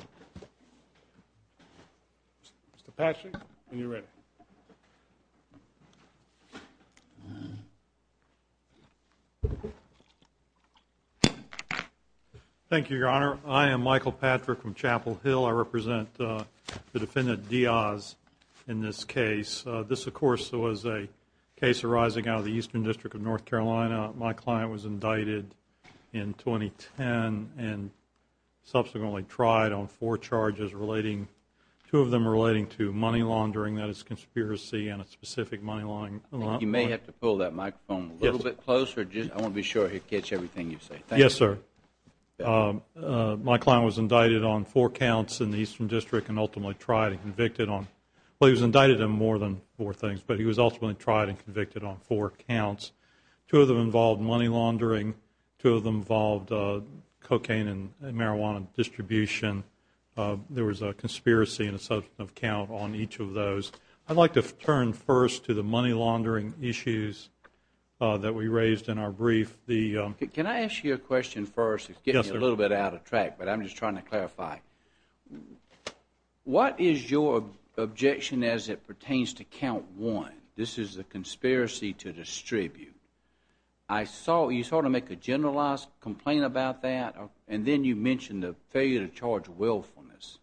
Mr. Patrick, when you're ready. Thank you, Your Honor. I am Michael Patrick from Chapel Hill. I represent the Defendant Diaz in this case. This, of course, was a case arising out of the Eastern District of charges relating to money laundering, that is, conspiracy and a specific money laundering allotment. You may have to pull that microphone a little bit closer. I want to be sure I catch everything you say. Yes, sir. My client was indicted on four counts in the Eastern District and ultimately tried and convicted on, well, he was indicted on more than four things, but he was ultimately tried and convicted on four counts. Two of them involved money laundering. Two of them involved cocaine and marijuana distribution. There was a conspiracy and a substance of count on each of those. I'd like to turn first to the money laundering issues that we raised in our brief. Can I ask you a question first? It's getting a little bit out of track, but I'm just trying to clarify. What is your objection as it pertains to count one? This is a conspiracy to distribute. You sort of make a generalized complaint about that and then you mention the failure to charge willfulness.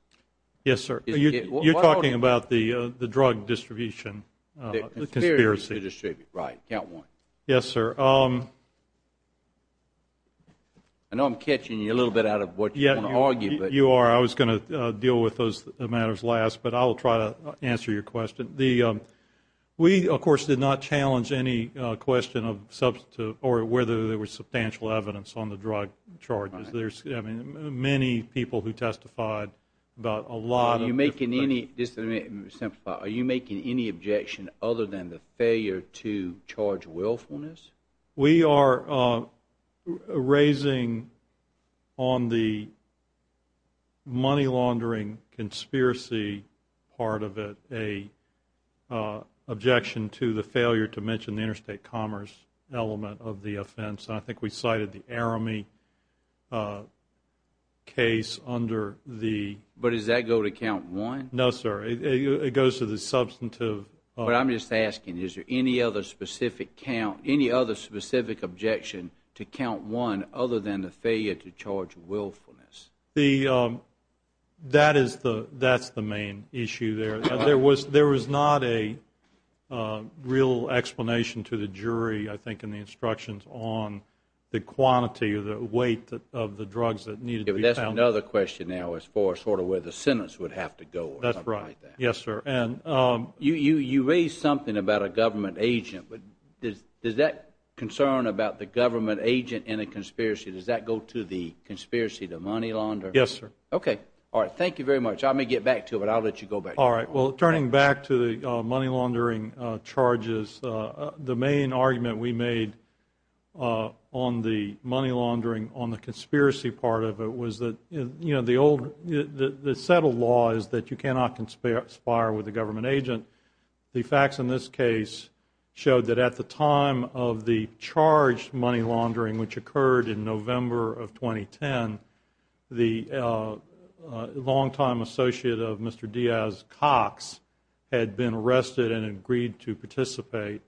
Yes, sir. You're talking about the drug distribution. The conspiracy to distribute, right, count one. Yes, sir. I know I'm catching you a little bit out of what you're going to argue. You are. I was going to deal with those matters last, but I'll try to answer your question. We, of course, did not challenge any question of whether there was substantial evidence on the drug charges. There's many people who testified about a lot of different things. Just to simplify, are you making any objection other than the failure to charge willfulness? We are raising on the money laundering conspiracy part of it an objection to the failure to mention the interstate commerce element of the offense. I think we cited the ARAMI case under the But does that go to count one? No, sir. It goes to the substantive But I'm just asking, is there any other specific count, any other specific objection to count one other than the failure to charge willfulness? That is the main issue there. There was not a real explanation to the jury, I think, in the instructions on the quantity or the weight of the drugs that needed to be found. That's another question now as far as sort of where the sentence would have to go. That's right. Yes, sir. You raised something about a government agent, but does that concern about the government agent in a conspiracy, does that go to the conspiracy, the money launderer? Yes, sir. Okay. All right. Thank you very much. I may get back to it, but I'll let you go back. All right. Well, turning back to the money laundering charges, the main argument we made on the money laundering, on the conspiracy part of it, was that the settled law is that you cannot conspire with a government agent. The facts in this case showed that at the time of the charged money laundering, which occurred in November of 2010, the longtime associate of Mr. Diaz, Cox, had been arrested and agreed to participate.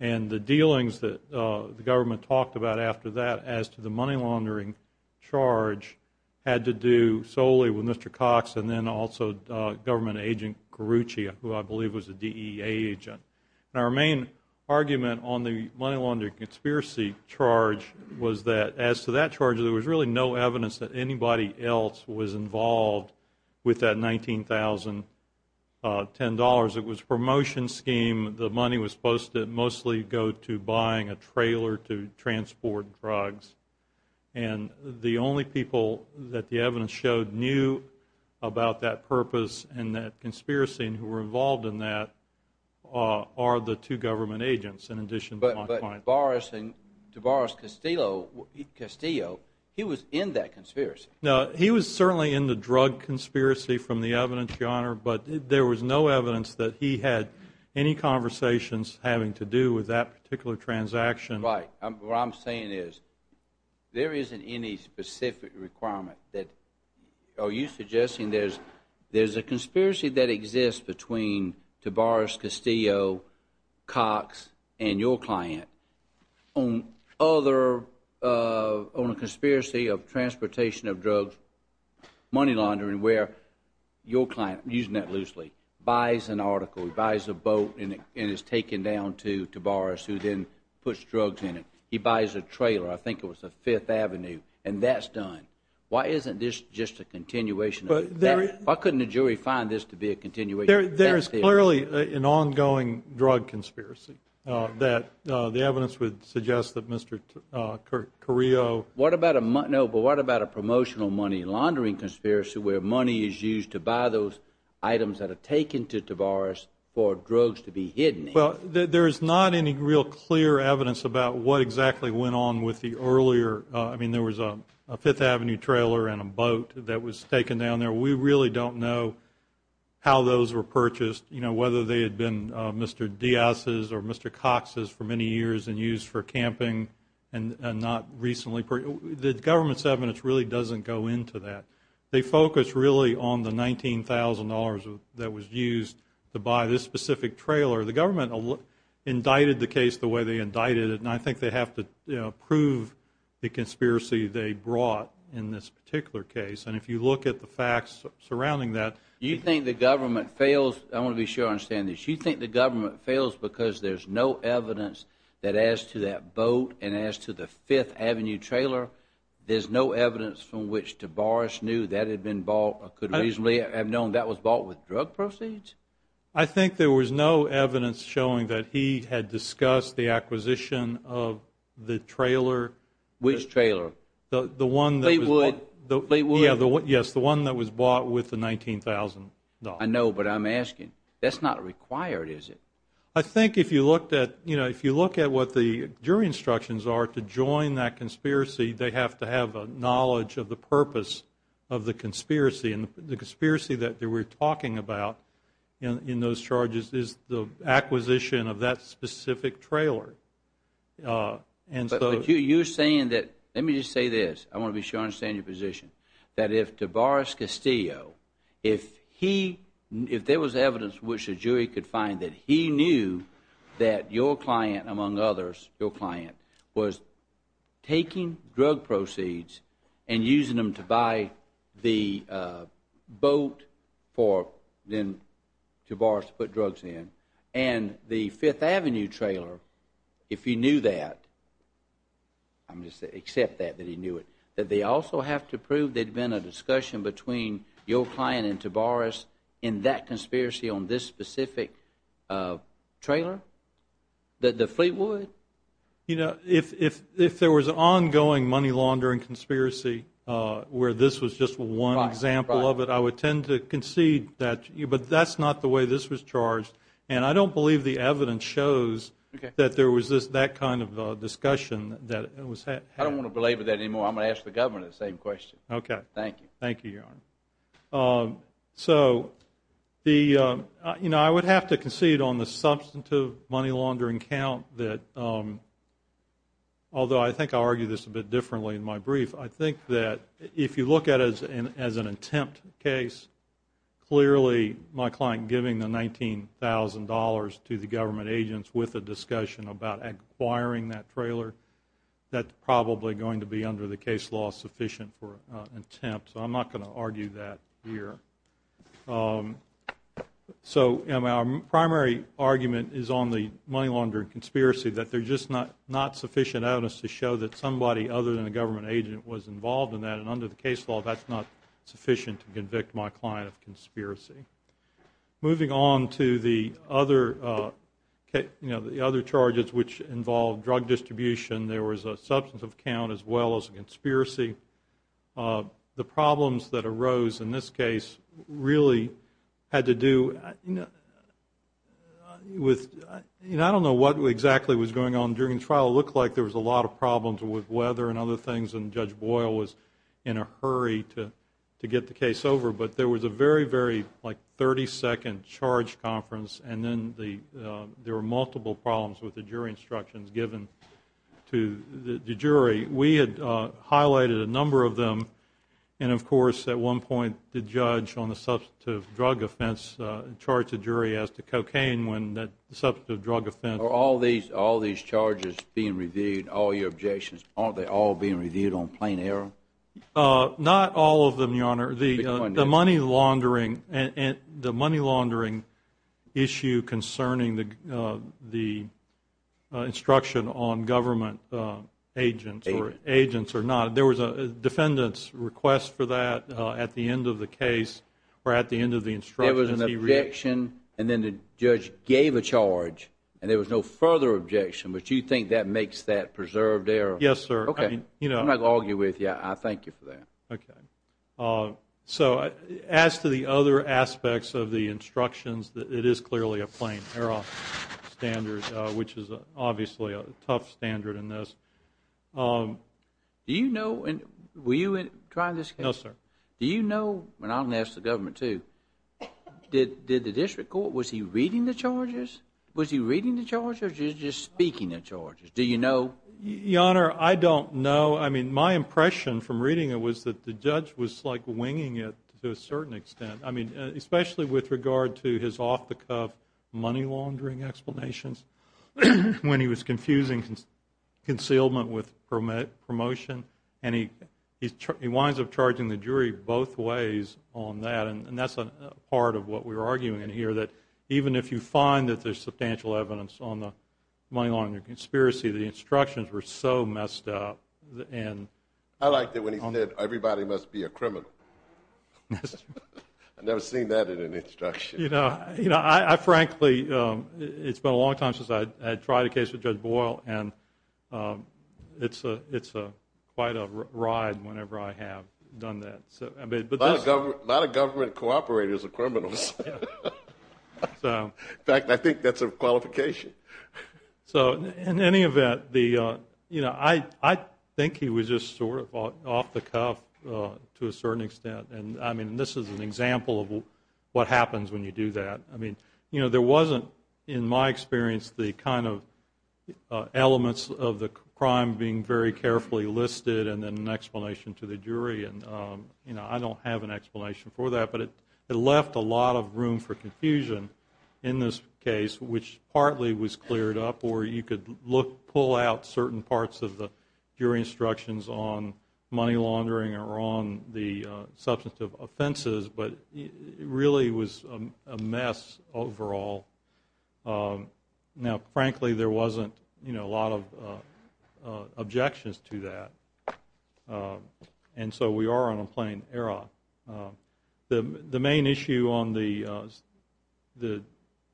And the dealings that the government talked about after that as to the money laundering charge had to do solely with Mr. Cox and then also government agent Carucci, who I believe was a DEA agent. And our main argument on the money laundering conspiracy charge was that as to that charge, there was really no evidence that anybody else was involved with that $19,010. It was a promotion scheme. The money was supposed to mostly go to buying a trailer to transport drugs. And the only people that the evidence showed knew about that purpose and that conspiracy and who were involved in that are the two government agents, in addition to my client. But to Boris Castillo, he was in that conspiracy. No, he was certainly in the drug conspiracy from the evidence, Your Honor, but there was no evidence that he had any conversations having to do with that particular transaction. Right. What I'm saying is there isn't any specific requirement that, are you suggesting there's a conspiracy that exists between Tavaris Castillo, Cox, and your client on other, on a conspiracy of transportation of drugs, money laundering, where your client, using that loosely, buys an article, buys a boat, and it's taken down to Tavaris, who then puts drugs in it. He buys a trailer, I think it was the Fifth Avenue, and that's done. Why isn't this just a continuation? Why couldn't a jury find this to be a continuation? There is clearly an ongoing drug conspiracy that the evidence would suggest that Mr. Correo What about a, no, but what about a promotional money laundering conspiracy where money is used to buy those items that are taken to Tavaris for drugs to be hidden in? Well, there is not any real clear evidence about what exactly went on with the earlier, I mean, there was a Fifth Avenue trailer and a boat that was taken down there. We really don't know how those were purchased, whether they had been Mr. Diaz's or Mr. Cox's for many years and used for camping and not recently. The government's evidence really doesn't go into that. They focus really on the $19,000 that was used to buy this specific trailer. The government indicted the case the way they indicted it, and I think they have to prove the conspiracy they brought in this particular case. And if you look at the facts surrounding that... You think the government fails, I want to be sure I understand this, you think the government fails because there's no evidence that as to that boat and as to the Fifth Avenue trailer, there's no evidence from which Tavaris knew that had been bought or could reasonably have known that was bought with drug proceeds? I think there was no evidence showing that he had discussed the acquisition of the trailer. Which trailer? The one that was bought... Fleetwood? Yes, the one that was bought with the $19,000. I know, but I'm asking. That's not required, is it? I think if you look at what the jury instructions are to join that conspiracy, they have to have a knowledge of the purpose of the conspiracy. And the conspiracy that they were talking about in those charges is the acquisition of that specific trailer. But you're saying that... Let me just say this. I want to be sure I understand your position. That if Tavaris Castillo, if there was evidence which a jury could find that he knew that your client, among others, your client, was taking drug proceeds and using them to buy the boat for Tavaris to put drugs in, and the Fifth Avenue trailer, if he knew that, I'm just saying accept that, that he knew it, that they also have to prove there had been a discussion between your client and Tavaris in that conspiracy on this specific trailer? The Fleetwood? You know, if there was ongoing money laundering conspiracy where this was just one example of it, I would tend to concede that. But that's not the way this was charged. And I don't believe the evidence shows that there was that kind of discussion that was had. I don't want to belabor that anymore. I'm going to ask the Governor the same question. Okay. Thank you. Thank you, Your Honor. So, you know, I would have to concede on the substantive money laundering count that although I think I'll argue this a bit differently in my brief, I think that if you look at it as an attempt case, clearly my client giving the $19,000 to the government agents with a discussion about acquiring that trailer, that's probably going to be under the case law sufficient for an attempt. So I'm not going to argue that here. So our primary argument is on the money laundering conspiracy, that there's just not sufficient evidence to show that somebody other than a government agent was involved in that, and under the case law, that's not sufficient to convict my client of conspiracy. Moving on to the other charges which involve drug distribution, there was a substantive count as well as a conspiracy. The problems that arose in this case really had to do with, you know, I don't know what exactly was going on during the trial. It looked like there was a lot of problems with weather and other things, and Judge Boyle was in a hurry to get the case over. But there was a very, very, like, 30-second charge conference, and then there were multiple problems with the jury instructions given to the jury. We had highlighted a number of them, and of course at one point the judge on the substantive drug offense charged the jury as to cocaine when that substantive drug offense. Are all these charges being reviewed, all your objections, aren't they all being reviewed on plain error? Not all of them, Your Honor. The money laundering issue concerning the instruction on government agents. There was a defendant's request for that at the end of the case or at the end of the instruction. There was an objection, and then the judge gave a charge, and there was no further objection, but you think that makes that preserved error? Yes, sir. Okay. I'm not going to argue with you. I thank you for that. Okay. So as to the other aspects of the instructions, it is clearly a plain error standard, which is obviously a tough standard in this. Were you trying this case? No, sir. Do you know, and I'm going to ask the government too, did the district court, was he reading the charges? Was he reading the charges or was he just speaking the charges? Do you know? Your Honor, I don't know. My impression from reading it was that the judge was like winging it to a certain extent, especially with regard to his off-the-cuff money laundering explanations when he was confusing concealment with promotion, and he winds up charging the jury both ways on that, and that's part of what we were arguing here, that even if you find that there's substantial evidence on the money laundering conspiracy, the instructions were so messed up. I liked it when he said everybody must be a criminal. I've never seen that in an instruction. You know, I frankly, it's been a long time since I tried a case with Judge Boyle, and it's quite a ride whenever I have done that. A lot of government cooperators are criminals. In fact, I think that's a qualification. So in any event, you know, I think he was just sort of off-the-cuff to a certain extent, and, I mean, this is an example of what happens when you do that. I mean, you know, there wasn't, in my experience, the kind of elements of the crime being very carefully listed and then an explanation to the jury, and, you know, I don't have an explanation for that, but it left a lot of room for confusion in this case, which partly was cleared up or you could pull out certain parts of the jury instructions on money laundering or on the substantive offenses, but it really was a mess overall. Now, frankly, there wasn't, you know, a lot of objections to that, and so we are on a plain error. The main issue on the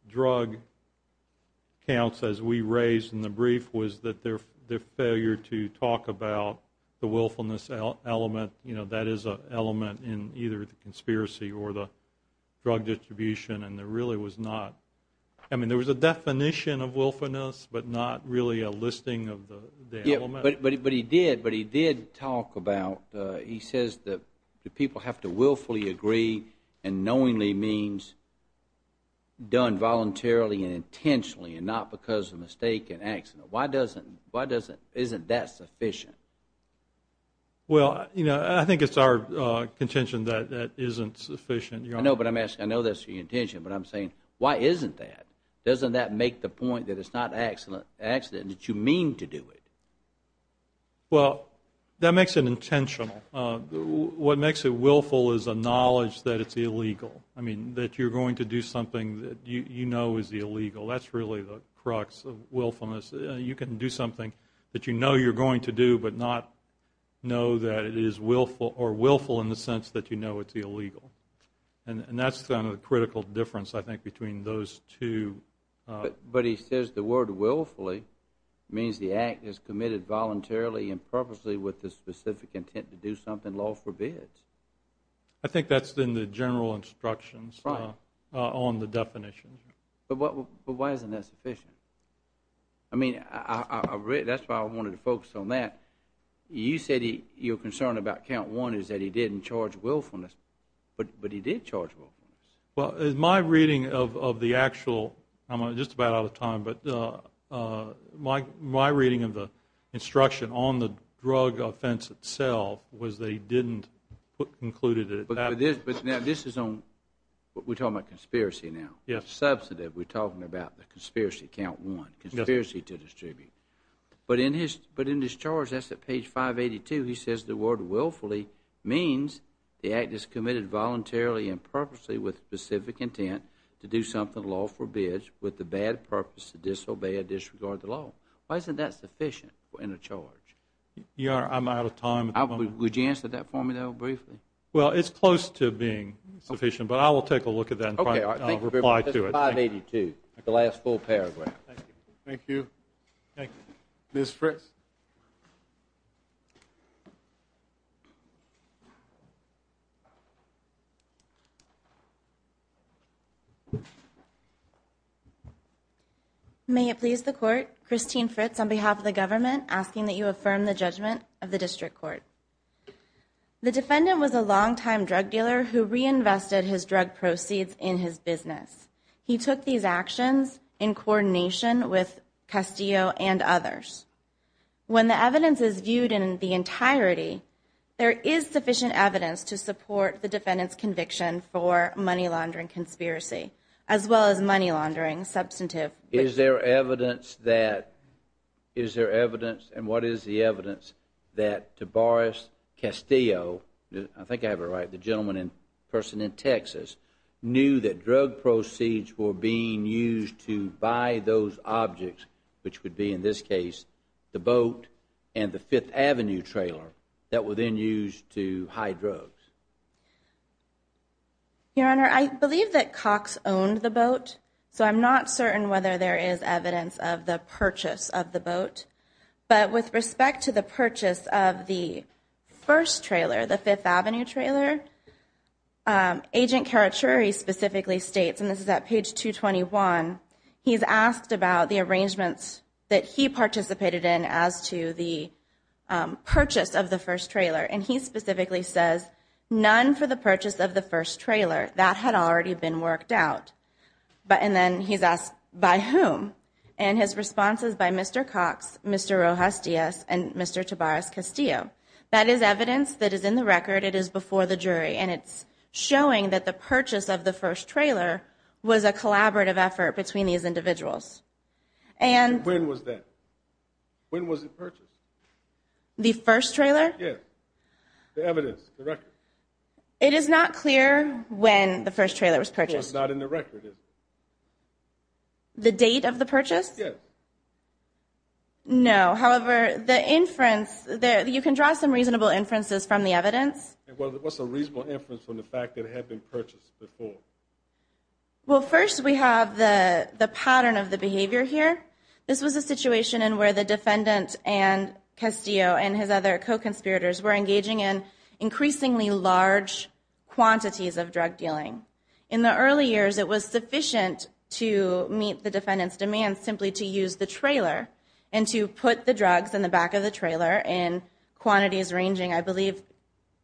drug counts, as we raised in the brief, was that their failure to talk about the willfulness element, you know, that is an element in either the conspiracy or the drug distribution, and there really was not, I mean, there was a definition of willfulness, but not really a listing of the element. But he did, but he did talk about, he says that people have to willfully agree and knowingly means done voluntarily and intentionally and not because of mistake and accident. Why doesn't, isn't that sufficient? Well, you know, I think it's our contention that that isn't sufficient, Your Honor. I know, but I'm asking, I know that's your intention, but I'm saying why isn't that? Doesn't that make the point that it's not accident, that you mean to do it? Well, that makes it intentional. What makes it willful is a knowledge that it's illegal, I mean, that you're going to do something that you know is illegal. That's really the crux of willfulness. You can do something that you know you're going to do but not know that it is willful or willful in the sense that you know it's illegal, and that's the critical difference, I think, between those two. But he says the word willfully means the act is committed voluntarily and purposely with the specific intent to do something law forbids. I think that's in the general instructions on the definition. But why isn't that sufficient? I mean, that's why I wanted to focus on that. You said your concern about count one is that he didn't charge willfulness, but he did charge willfulness. Well, in my reading of the actual, I'm just about out of time, but my reading of the instruction on the drug offense itself was that he didn't include it. But this is on, we're talking about conspiracy now. Yes. Substantive, we're talking about the conspiracy, count one, conspiracy to distribute. But in his charge, that's at page 582, he says the word willfully means the act is committed voluntarily and purposely with the specific intent to do something law forbids with the bad purpose to disobey or disregard the law. Why isn't that sufficient in a charge? I'm out of time. Would you answer that for me, though, briefly? Well, it's close to being sufficient, but I will take a look at that and reply to it. 582, the last full paragraph. Thank you. Thank you. Ms. Fritz. May it please the court, Christine Fritz on behalf of the government asking that you affirm the judgment of the district court. The defendant was a longtime drug dealer who reinvested his drug proceeds in his business. He took these actions in coordination with Castillo and others. When the evidence is viewed in the entirety, there is sufficient evidence to support the defendant's conviction for money laundering conspiracy as well as money laundering substantive. Is there evidence that, is there evidence and what is the evidence that Tobias Castillo, I think I have it right, the gentleman and person in Texas, knew that drug proceeds were being used to buy those objects, which would be in this case the boat and the Fifth Avenue trailer that were then used to hide drugs? Your Honor, I believe that Cox owned the boat, so I'm not certain whether there is evidence of the purchase of the boat. But with respect to the purchase of the first trailer, the Fifth Avenue trailer, Agent Carachuri specifically states, and this is at page 221, he's asked about the arrangements that he participated in as to the purchase of the first trailer. And he specifically says none for the purchase of the first trailer. That had already been worked out. And then he's asked by whom? And his response is by Mr. Cox, Mr. Rojas-Diaz, and Mr. Tobias Castillo. That is evidence that is in the record. It is before the jury. And it's showing that the purchase of the first trailer was a collaborative effort between these individuals. When was that? When was it purchased? The first trailer? Yes. The evidence, the record. It is not clear when the first trailer was purchased. It's not in the record, is it? The date of the purchase? Yes. No. However, the inference, you can draw some reasonable inferences from the evidence. What's a reasonable inference from the fact that it had been purchased before? Well, first we have the pattern of the behavior here. This was a situation in where the defendant and Castillo and his other co-conspirators were engaging in increasingly large quantities of drug dealing. In the early years, it was sufficient to meet the defendant's demand simply to use the trailer and to put the drugs in the back of the trailer in quantities ranging, I believe,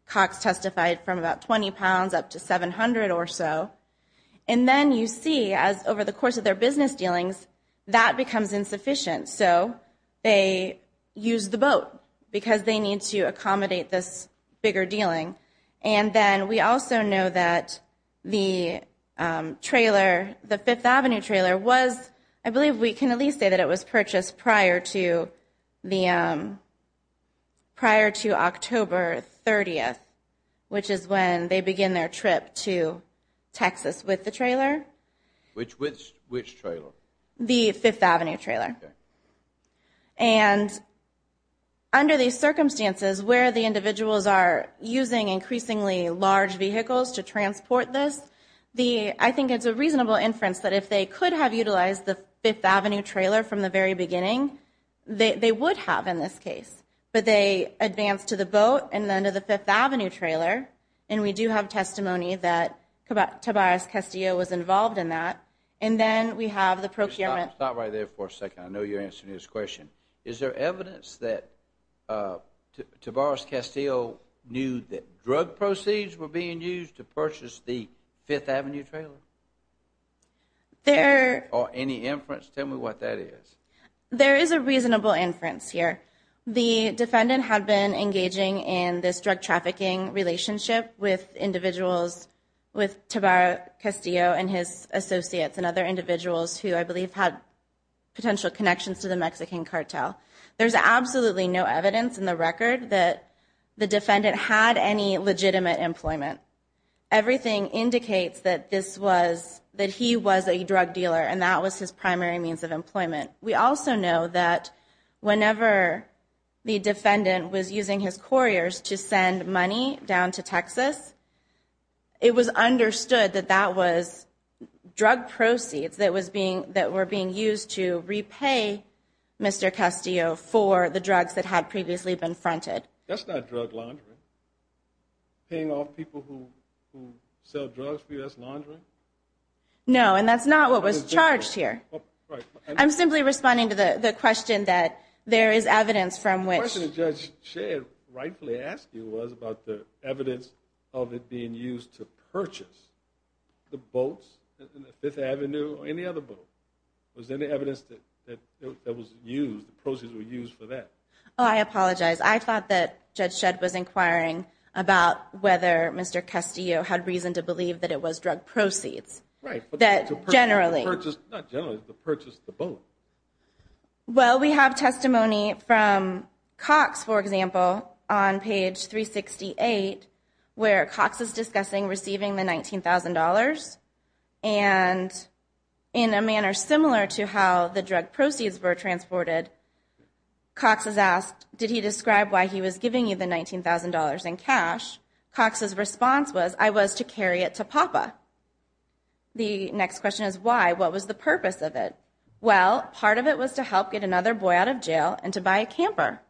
Cox testified, from about 20 pounds up to 700 or so. And then you see, as over the course of their business dealings, that becomes insufficient. So they use the boat because they need to accommodate this bigger dealing. And then we also know that the trailer, the Fifth Avenue trailer, was, I believe we can at least say that it was purchased prior to October 30th, which is when they begin their trip to Texas with the trailer. Which trailer? The Fifth Avenue trailer. And under these circumstances, where the individuals are using increasingly large vehicles to transport this, I think it's a reasonable inference that if they could have utilized the Fifth Avenue trailer from the very beginning, they would have in this case. But they advanced to the boat and then to the Fifth Avenue trailer, and we do have testimony that Tavares Castillo was involved in that. And then we have the procurement. Stop right there for a second. I know you're answering this question. Is there evidence that Tavares Castillo knew that drug proceeds were being used to purchase the Fifth Avenue trailer? Or any inference? Tell me what that is. There is a reasonable inference here. The defendant had been engaging in this drug trafficking relationship with individuals, with Tavares Castillo and his associates and other individuals who I believe had potential connections to the Mexican cartel. There's absolutely no evidence in the record that the defendant had any legitimate employment. Everything indicates that this was, that he was a drug dealer and that was his primary means of employment. We also know that whenever the defendant was using his couriers to send money down to Texas, it was understood that that was drug proceeds that were being used to repay Mr. Castillo for the drugs that had previously been fronted. That's not drug laundering. Paying off people who sell drugs for you, that's laundering? No, and that's not what was charged here. I'm simply responding to the question that there is evidence from which... The question Judge Shedd rightfully asked you was about the evidence of it being used to purchase the boats, the Fifth Avenue or any other boat. Was there any evidence that it was used, the proceeds were used for that? Oh, I apologize. I thought that Judge Shedd was inquiring about whether Mr. Castillo had reason to believe that it was drug proceeds. Right. Generally. Not generally, the purchase of the boat. Well, we have testimony from Cox, for example, on page 368, where Cox is discussing receiving the $19,000. And in a manner similar to how the drug proceeds were transported, Cox is asked, did he describe why he was giving you the $19,000 in cash? Cox's response was, I was to carry it to Papa. The next question is why, what was the purpose of it? Well, part of it was to help get another boy out of jail and to buy a camper.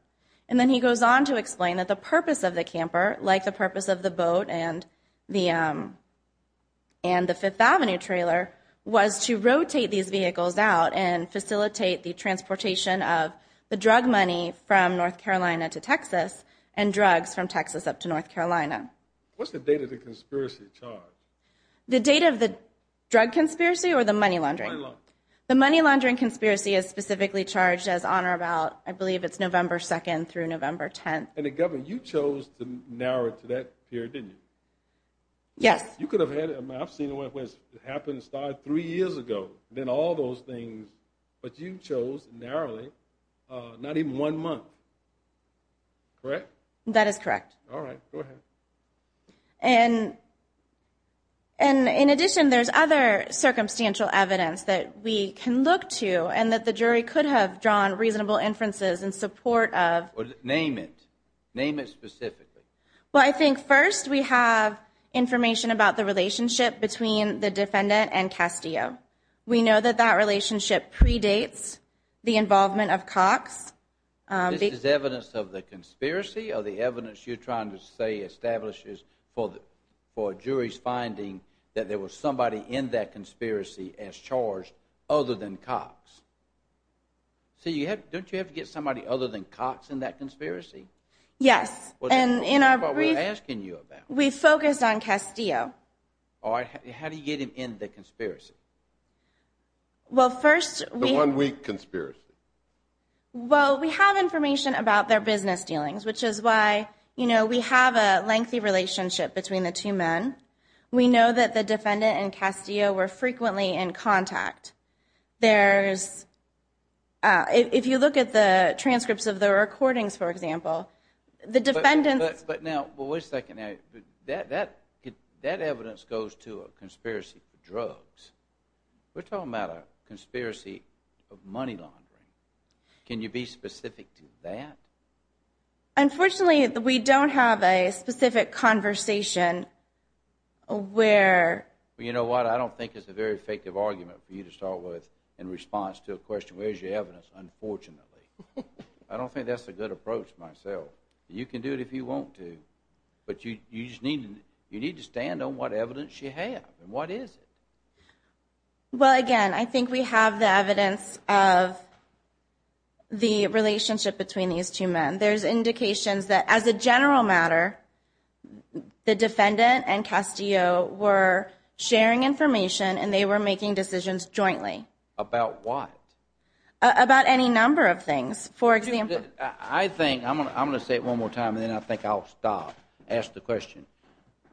And then he goes on to explain that the purpose of the camper, like the purpose of the boat and the Fifth Avenue trailer, was to rotate these vehicles out and facilitate the transportation of the drug money from North Carolina to Texas and drugs from Texas up to North Carolina. What's the date of the conspiracy charge? The date of the drug conspiracy or the money laundering? Money laundering. The money laundering conspiracy is specifically charged as honor about, I believe it's November 2nd through November 10th. And the Governor, you chose to narrow it to that period, didn't you? Yes. You could have had it, I've seen it happen, it started three years ago, then all those things, but you chose narrowly, not even one month. Correct? That is correct. All right, go ahead. And in addition, there's other circumstantial evidence that we can look to and that the jury could have drawn reasonable inferences in support of. Name it. Name it specifically. Well, I think first we have information about the relationship between the defendant and Castillo. This is evidence of the conspiracy or the evidence you're trying to say establishes for a jury's finding that there was somebody in that conspiracy as charged other than Cox? See, don't you have to get somebody other than Cox in that conspiracy? Yes. That's what we're asking you about. We focused on Castillo. The one week conspiracy. Well, we have information about their business dealings, which is why, you know, we have a lengthy relationship between the two men. We know that the defendant and Castillo were frequently in contact. There's, if you look at the transcripts of the recordings, for example, the defendant. But now, wait a second. That evidence goes to a conspiracy for drugs. We're talking about a conspiracy of money laundering. Can you be specific to that? Unfortunately, we don't have a specific conversation where... You know what? I don't think it's a very effective argument for you to start with in response to a question, where's your evidence? Unfortunately. I don't think that's a good approach myself. You can do it if you want to. But you just need to stand on what evidence you have. And what is it? Well, again, I think we have the evidence of the relationship between these two men. There's indications that, as a general matter, the defendant and Castillo were sharing information and they were making decisions jointly. About what? About any number of things. For example... I think... I'm going to say it one more time and then I think I'll stop. Ask the question.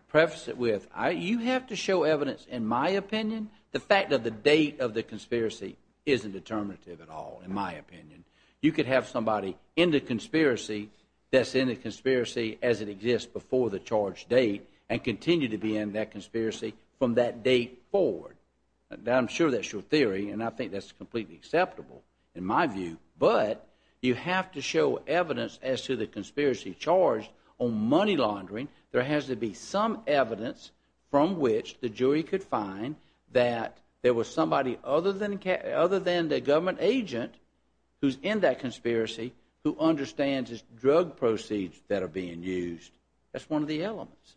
Preface it with, you have to show evidence, in my opinion, the fact that the date of the conspiracy isn't determinative at all, in my opinion. You could have somebody in the conspiracy that's in the conspiracy as it exists before the charge date and continue to be in that conspiracy from that date forward. I'm sure that's your theory, and I think that's completely acceptable, in my view. But you have to show evidence as to the conspiracy charge on money laundering. There has to be some evidence from which the jury could find that there was somebody other than the government agent who's in that conspiracy who understands the drug proceeds that are being used. That's one of the elements.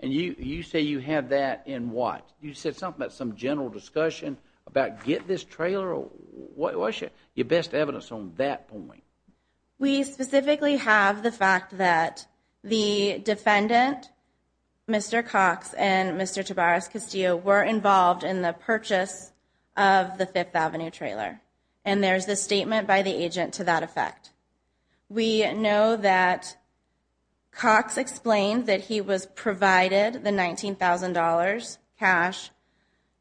And you say you have that in what? You said something about some general discussion about get this trailer or what was it? Your best evidence on that point. We specifically have the fact that the defendant, Mr. Cox, and Mr. Tavares Castillo, were involved in the purchase of the Fifth Avenue trailer. And there's a statement by the agent to that effect. We know that Cox explained that he was provided the $19,000 cash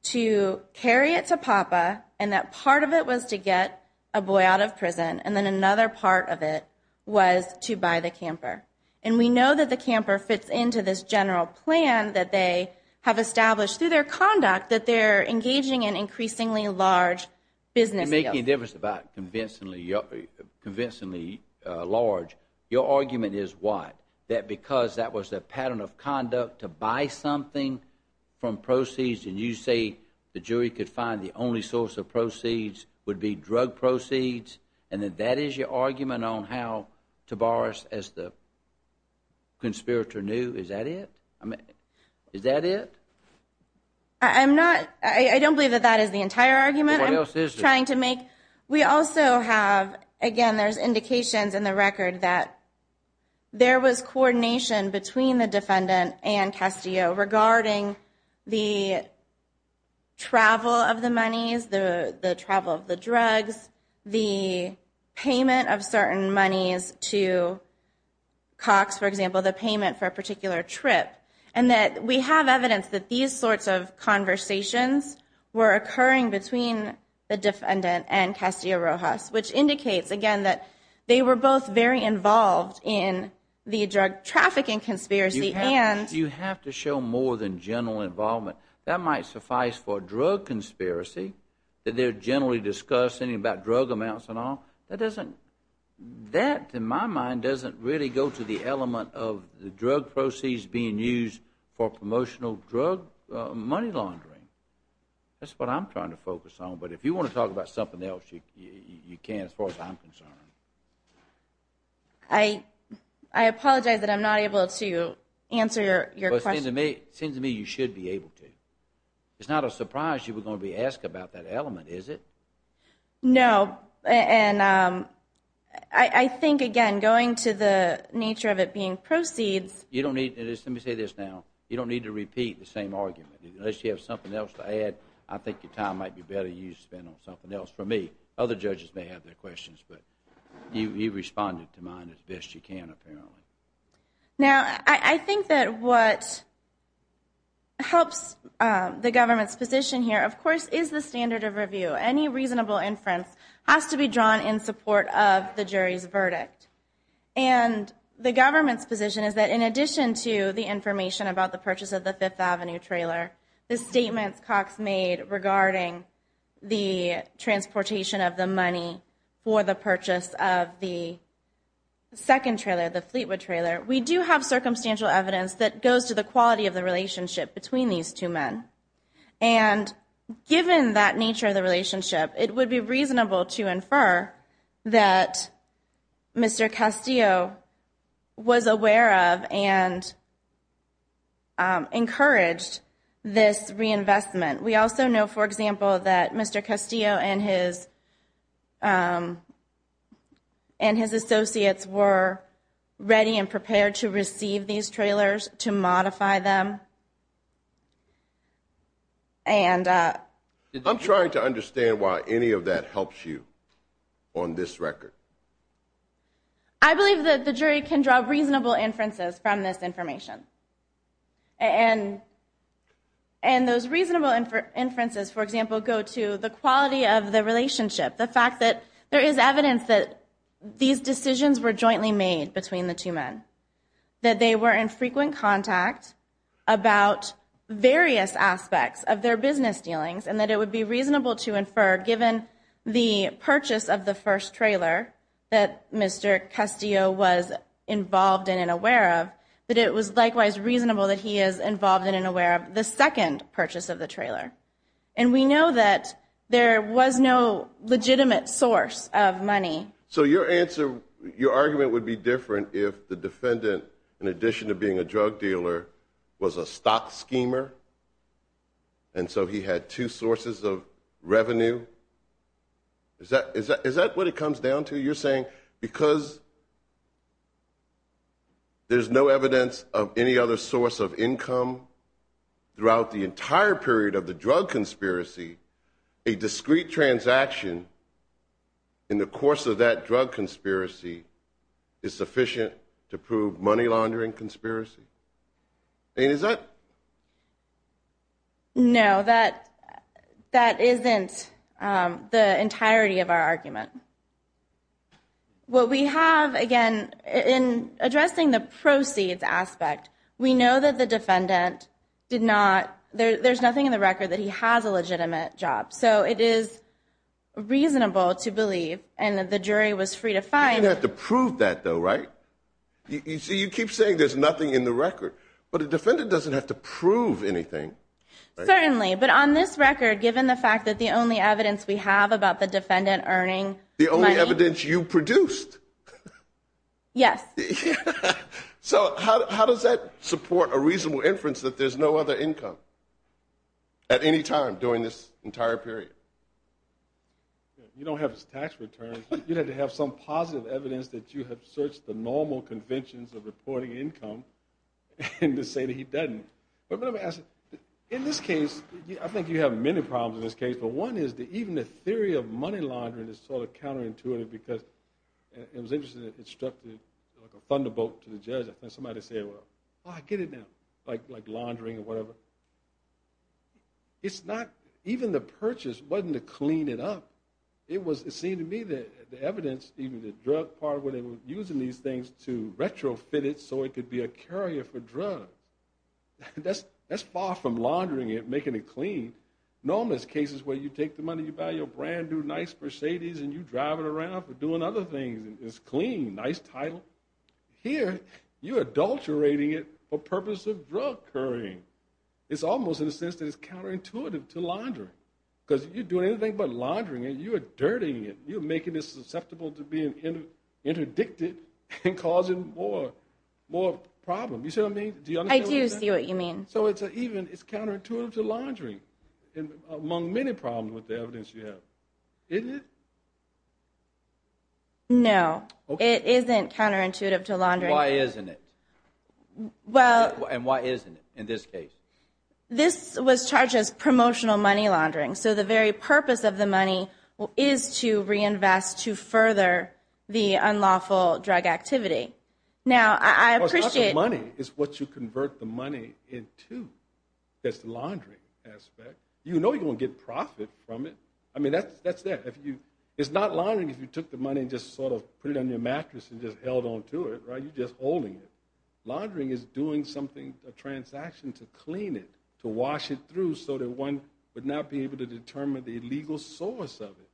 to carry it to Papa, and that part of it was to get a boy out of prison, and then another part of it was to buy the camper. And we know that the camper fits into this general plan that they have established through their conduct that they're engaging in increasingly large business deals. Give us about convincingly large. Your argument is what? That because that was a pattern of conduct to buy something from proceeds, and you say the jury could find the only source of proceeds would be drug proceeds? And that that is your argument on how Tavares, as the conspirator, knew? Is that it? Is that it? I don't believe that that is the entire argument. What else is there? We also have, again, there's indications in the record that there was coordination between the defendant and Castillo regarding the travel of the monies, the travel of the drugs, the payment of certain monies to Cox, for example, the payment for a particular trip. And that we have evidence that these sorts of conversations were occurring between the defendant and Castillo Rojas, which indicates, again, that they were both very involved in the drug trafficking conspiracy and You have to show more than general involvement. That might suffice for a drug conspiracy, that they're generally discussing about drug amounts and all. That, in my mind, doesn't really go to the element of the drug proceeds being used for promotional drug money laundering. That's what I'm trying to focus on. But if you want to talk about something else, you can, as far as I'm concerned. I apologize that I'm not able to answer your question. It seems to me you should be able to. It's not a surprise you were going to be asked about that element, is it? No. And I think, again, going to the nature of it being proceeds. You don't need, let me say this now. You don't need to repeat the same argument. Unless you have something else to add, I think your time might be better spent on something else. For me, other judges may have their questions, but you responded to mine as best you can, apparently. Now, I think that what helps the government's position here, of course, is the standard of review. Any reasonable inference has to be drawn in support of the jury's verdict. And the government's position is that in addition to the information about the purchase of the Fifth Avenue trailer, the statements Cox made regarding the transportation of the money for the purchase of the second trailer, the Fleetwood trailer, we do have circumstantial evidence that goes to the quality of the relationship between these two men. And given that nature of the relationship, it would be reasonable to infer that Mr. Castillo was aware of and encouraged this reinvestment. We also know, for example, that Mr. Castillo and his associates were ready and prepared to receive these trailers, to modify them. I'm trying to understand why any of that helps you on this record. I believe that the jury can draw reasonable inferences from this information. And those reasonable inferences, for example, go to the quality of the relationship, the fact that there is evidence that these decisions were jointly made between the two men, that they were in frequent contact about various aspects of their business dealings, and that it would be reasonable to infer, given the purchase of the first trailer that Mr. Castillo was involved in and aware of, that it was likewise reasonable that he is involved in and aware of the second purchase of the trailer. And we know that there was no legitimate source of money. So your argument would be different if the defendant, in addition to being a drug dealer, was a stock schemer? And so he had two sources of revenue? Is that what it comes down to? You're saying because there's no evidence of any other source of income throughout the entire period of the drug conspiracy, a discrete transaction in the course of that drug conspiracy is sufficient to prove money laundering conspiracy? And is that? No, that isn't the entirety of our argument. What we have, again, in addressing the proceeds aspect, we know that the defendant did not – there's nothing in the record that he has a legitimate job. So it is reasonable to believe, and the jury was free to find – You didn't have to prove that, though, right? You keep saying there's nothing in the record, but a defendant doesn't have to prove anything. Certainly. But on this record, given the fact that the only evidence we have about the defendant earning money – The only evidence you produced. Yes. So how does that support a reasonable inference that there's no other income at any time during this entire period? You don't have his tax returns. You'd have to have some positive evidence that you have searched the normal conventions of reporting income to say that he doesn't. But let me ask you, in this case, I think you have many problems in this case, but one is that even the theory of money laundering is sort of counterintuitive because it was interesting that it struck like a thunderbolt to the judge. I think somebody said, well, I get it now, like laundering or whatever. It's not – even the purchase wasn't to clean it up. It seemed to me that the evidence, even the drug part, where they were using these things to retrofit it so it could be a carrier for drugs, that's far from laundering it, making it clean. Normally, there's cases where you take the money, you buy your brand-new nice Mercedes, and you drive it around for doing other things, and it's clean, nice title. Here, you're adulterating it for purpose of drug currying. It's almost in a sense that it's counterintuitive to laundering because you're doing anything but laundering it. You're dirtying it. You're making it susceptible to being interdicted and causing more problems. You see what I mean? Do you understand what I'm saying? I do see what you mean. So it's counterintuitive to laundering among many problems with the evidence you have. Isn't it? No, it isn't counterintuitive to laundering. Why isn't it? And why isn't it in this case? This was charged as promotional money laundering. So the very purpose of the money is to reinvest to further the unlawful drug activity. Now, I appreciate it. Well, it's not the money. It's what you convert the money into that's the laundering aspect. You know you're going to get profit from it. I mean, that's that. It's not laundering if you took the money and just sort of put it on your mattress and just held on to it, right? You're just holding it. Laundering is doing something, a transaction to clean it, to wash it through so that one would not be able to determine the illegal source of it.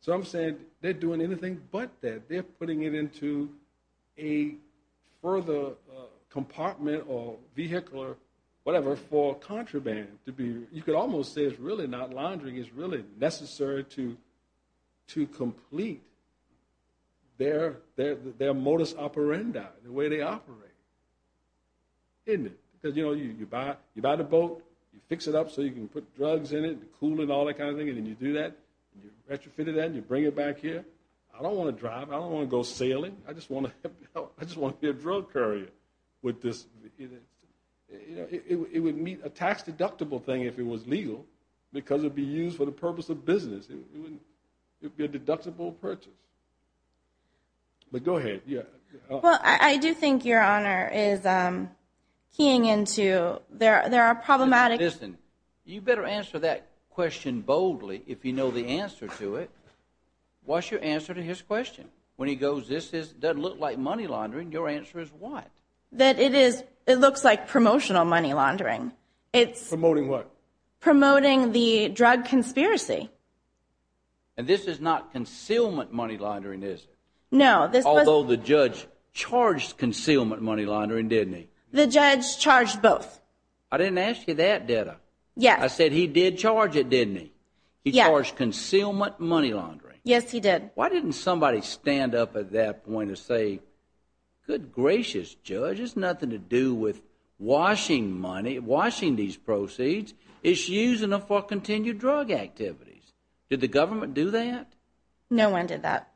So I'm saying they're doing anything but that. They're putting it into a further compartment or vehicle or whatever for contraband. You could almost say it's really not laundering. It's really necessary to complete their modus operandi, the way they operate, isn't it? Because, you know, you buy the boat, you fix it up so you can put drugs in it and cool it and all that kind of thing, and then you do that, you retrofit it and you bring it back here. I don't want to drive. I don't want to go sailing. I just want to be a drug courier with this. It would meet a tax-deductible thing if it was legal because it would be used for the purpose of business. It would be a deductible purchase. But go ahead. Well, I do think Your Honor is keying into there are problematic. Listen, you better answer that question boldly if you know the answer to it. What's your answer to his question? When he goes, this doesn't look like money laundering, your answer is what? That it looks like promotional money laundering. Promoting what? Promoting the drug conspiracy. And this is not concealment money laundering, is it? No. Although the judge charged concealment money laundering, didn't he? The judge charged both. I didn't ask you that, did I? Yes. I said he did charge it, didn't he? He charged concealment money laundering. Yes, he did. Why didn't somebody stand up at that point and say, good gracious, Judge, it's nothing to do with washing money, washing these proceeds, it's using them for continued drug activities. Did the government do that? No one did that.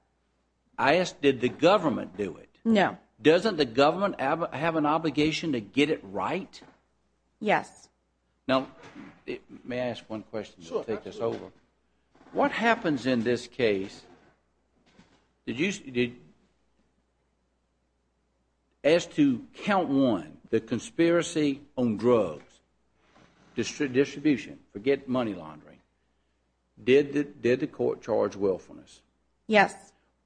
I asked, did the government do it? No. Doesn't the government have an obligation to get it right? Yes. Now, may I ask one question to take this over? Sure. What happens in this case, did you, as to count one, the conspiracy on drugs, distribution, forget money laundering, did the court charge willfulness? Yes.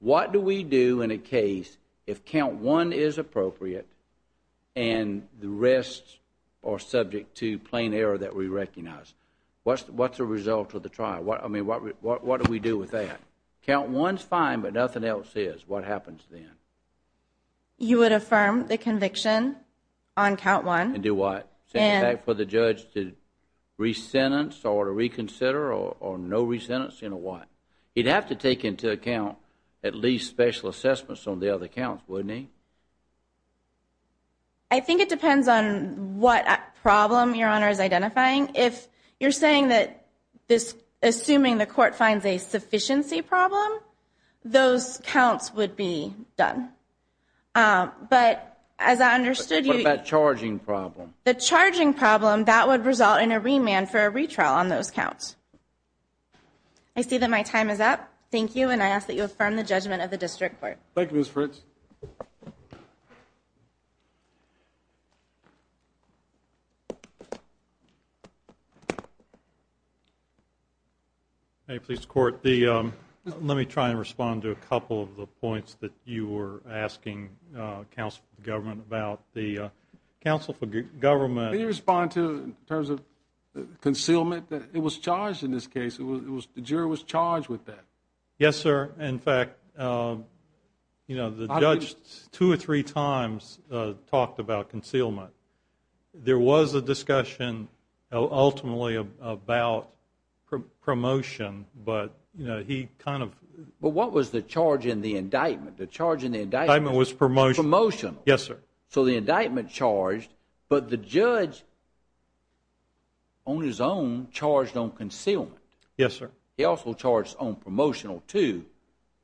What do we do in a case if count one is appropriate and the rest are subject to plain error that we recognize? What's the result of the trial? What do we do with that? Count one is fine, but nothing else is. What happens then? You would affirm the conviction on count one. And do what? Send it back for the judge to re-sentence or to reconsider or no re-sentencing or what? He'd have to take into account at least special assessments on the other counts, wouldn't he? I think it depends on what problem Your Honor is identifying. If you're saying that this, assuming the court finds a sufficiency problem, those counts would be done. But as I understood you... What about charging problem? The charging problem, that would result in a remand for a retrial on those counts. I see that my time is up. Thank you, and I ask that you affirm the judgment of the district court. Thank you, Ms. Fritz. Hey, police court, let me try and respond to a couple of the points that you were asking counsel for government about. The counsel for government... Can you respond in terms of concealment? It was charged in this case. The jury was charged with that. Yes, sir. In fact, the judge two or three times talked about concealment. There was a discussion ultimately about promotion, but he kind of... But what was the charge in the indictment? The charge in the indictment... The indictment was promotional. Promotional. Yes, sir. So the indictment charged, but the judge on his own charged on concealment. Yes, sir. He also charged on promotional, too.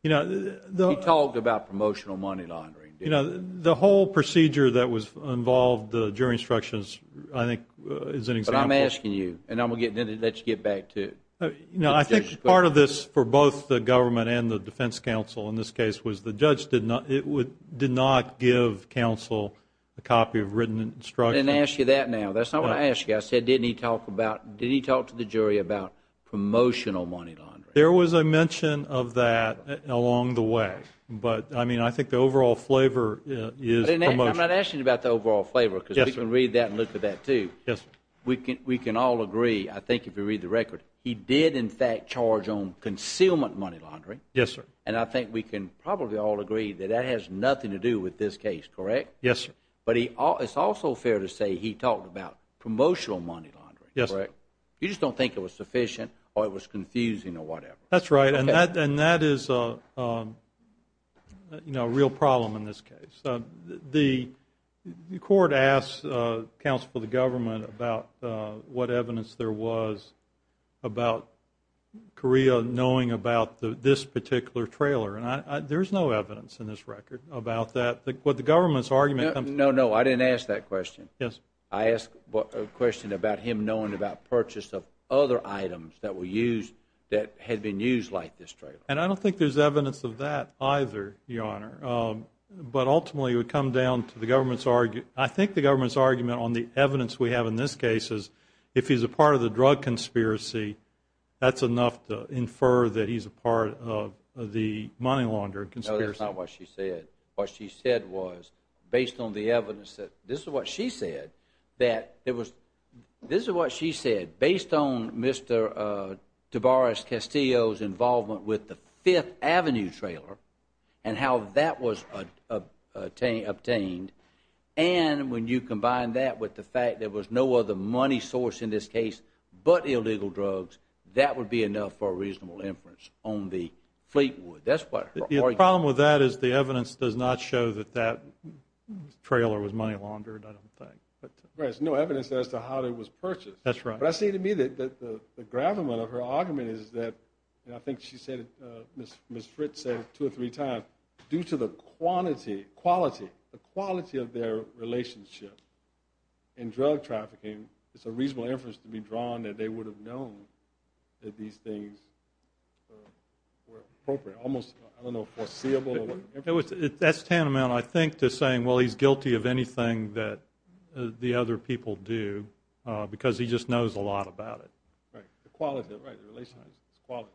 He talked about promotional money laundering. The whole procedure that was involved, the jury instructions I think is an example. But I'm asking you, and I'm going to let you get back to... No, I think part of this for both the government and the defense counsel in this case was the judge did not give counsel a copy of written instruction. I didn't ask you that now. That's not what I asked you. I said didn't he talk to the jury about promotional money laundering? There was a mention of that along the way, but I think the overall flavor is promotion. I'm not asking you about the overall flavor, because we can read that and look at that, too. Yes, sir. We can all agree, I think, if you read the record, he did in fact charge on concealment money laundering. Yes, sir. And I think we can probably all agree that that has nothing to do with this case, correct? Yes, sir. But it's also fair to say he talked about promotional money laundering. Yes, sir. You just don't think it was sufficient or it was confusing or whatever. That's right, and that is a real problem in this case. The court asked counsel for the government about what evidence there was about Correa knowing about this particular trailer, and there's no evidence in this record about that. No, no, I didn't ask that question. Yes. I asked a question about him knowing about purchase of other items that had been used like this trailer. And I don't think there's evidence of that either, Your Honor, but ultimately it would come down to the government's argument. I think the government's argument on the evidence we have in this case is if he's a part of the drug conspiracy, that's enough to infer that he's a part of the money laundering conspiracy. No, that's not what she said. What she said was based on the evidence that this is what she said, that this is what she said, based on Mr. Tavares Castillo's involvement with the Fifth Avenue trailer and how that was obtained, and when you combine that with the fact there was no other money source in this case but illegal drugs, that would be enough for a reasonable inference on the Fleetwood. The problem with that is the evidence does not show that that trailer was money laundered, I don't think. There's no evidence as to how it was purchased. That's right. But I say to me that the gravamen of her argument is that, and I think she said it, Ms. Fritz said it two or three times, due to the quality of their relationship in drug trafficking, it's a reasonable inference to be drawn that they would have known that these things were appropriate, almost, I don't know, foreseeable. That's tantamount, I think, to saying, well, he's guilty of anything that the other people do because he just knows a lot about it. Right. The quality. Right. The relationship. It's quality.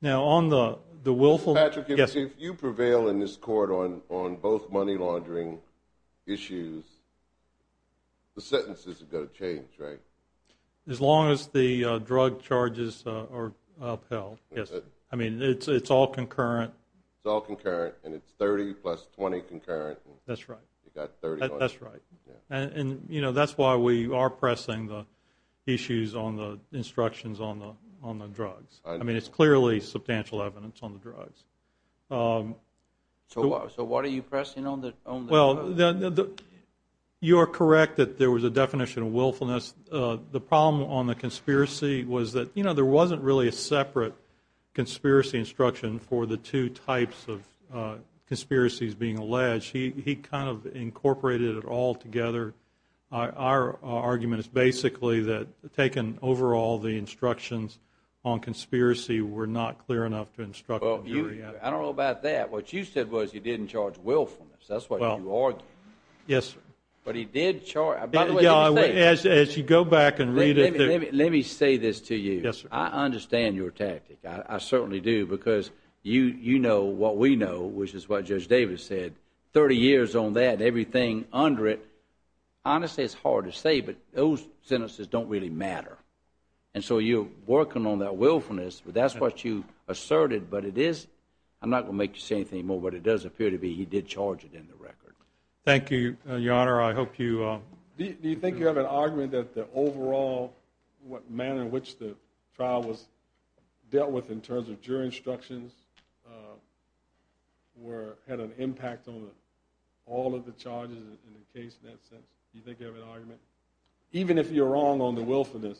Now, on the willful. Patrick, if you prevail in this court on both money laundering issues, the sentences are going to change, right? As long as the drug charges are upheld, yes. I mean, it's all concurrent. It's all concurrent, and it's 30 plus 20 concurrent. That's right. You've got 30. That's right. And, you know, that's why we are pressing the issues on the instructions on the drugs. I mean, it's clearly substantial evidence on the drugs. So what are you pressing on the drugs? Well, you are correct that there was a definition of willfulness. The problem on the conspiracy was that, you know, there wasn't really a separate conspiracy instruction for the two types of conspiracies being alleged. He kind of incorporated it all together. Our argument is basically that, taken overall, the instructions on conspiracy were not clear enough to instruct. I don't know about that. What you said was you didn't charge willfulness. That's what you argued. Yes, sir. But he did charge. By the way, let me say this. As you go back and read it through. Let me say this to you. Yes, sir. I understand your tactic. I certainly do, because you know what we know, which is what Judge Davis said, 30 years on that and everything under it. Honestly, it's hard to say, but those sentences don't really matter. And so you're working on that willfulness, but that's what you asserted. But it is – I'm not going to make you say anything more, but it does appear to be he did charge it in the record. Thank you, Your Honor. I hope you – Do you think you have an argument that the overall manner in which the trial was dealt with in terms of jury instructions had an impact on all of the charges in the case in that sense? Do you think you have an argument? Even if you're wrong on the willfulness,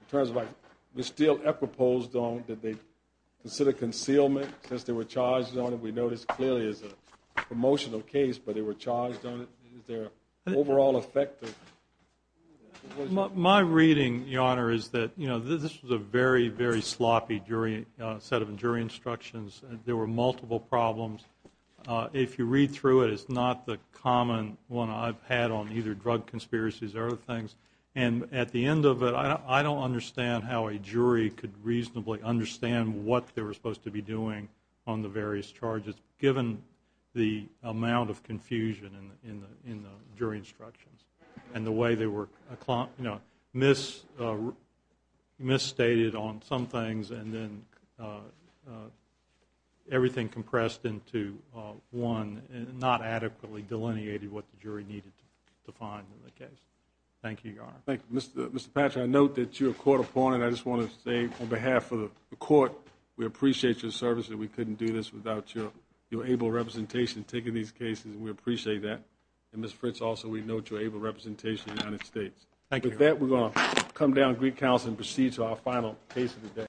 in terms of like, the steel epipoles, did they consider concealment, since they were charged on it? We know this clearly is a promotional case, but they were charged on it. Is there an overall effect? My reading, Your Honor, is that, you know, this was a very, very sloppy set of jury instructions. There were multiple problems. If you read through it, it's not the common one I've had on either drug conspiracies or other things. And at the end of it, I don't understand how a jury could reasonably understand what they were doing on the various charges, given the amount of confusion in the jury instructions and the way they were misstated on some things and then everything compressed into one and not adequately delineated what the jury needed to find in the case. Thank you, Your Honor. Thank you. Mr. Patchett, I note that you're a court opponent. I just want to say on behalf of the court, we appreciate your service that we couldn't do this without your able representation taking these cases, and we appreciate that. And Ms. Fritz, also, we note your able representation in the United States. Thank you. With that, we're going to come down to Greek Council and proceed to our final case of the day.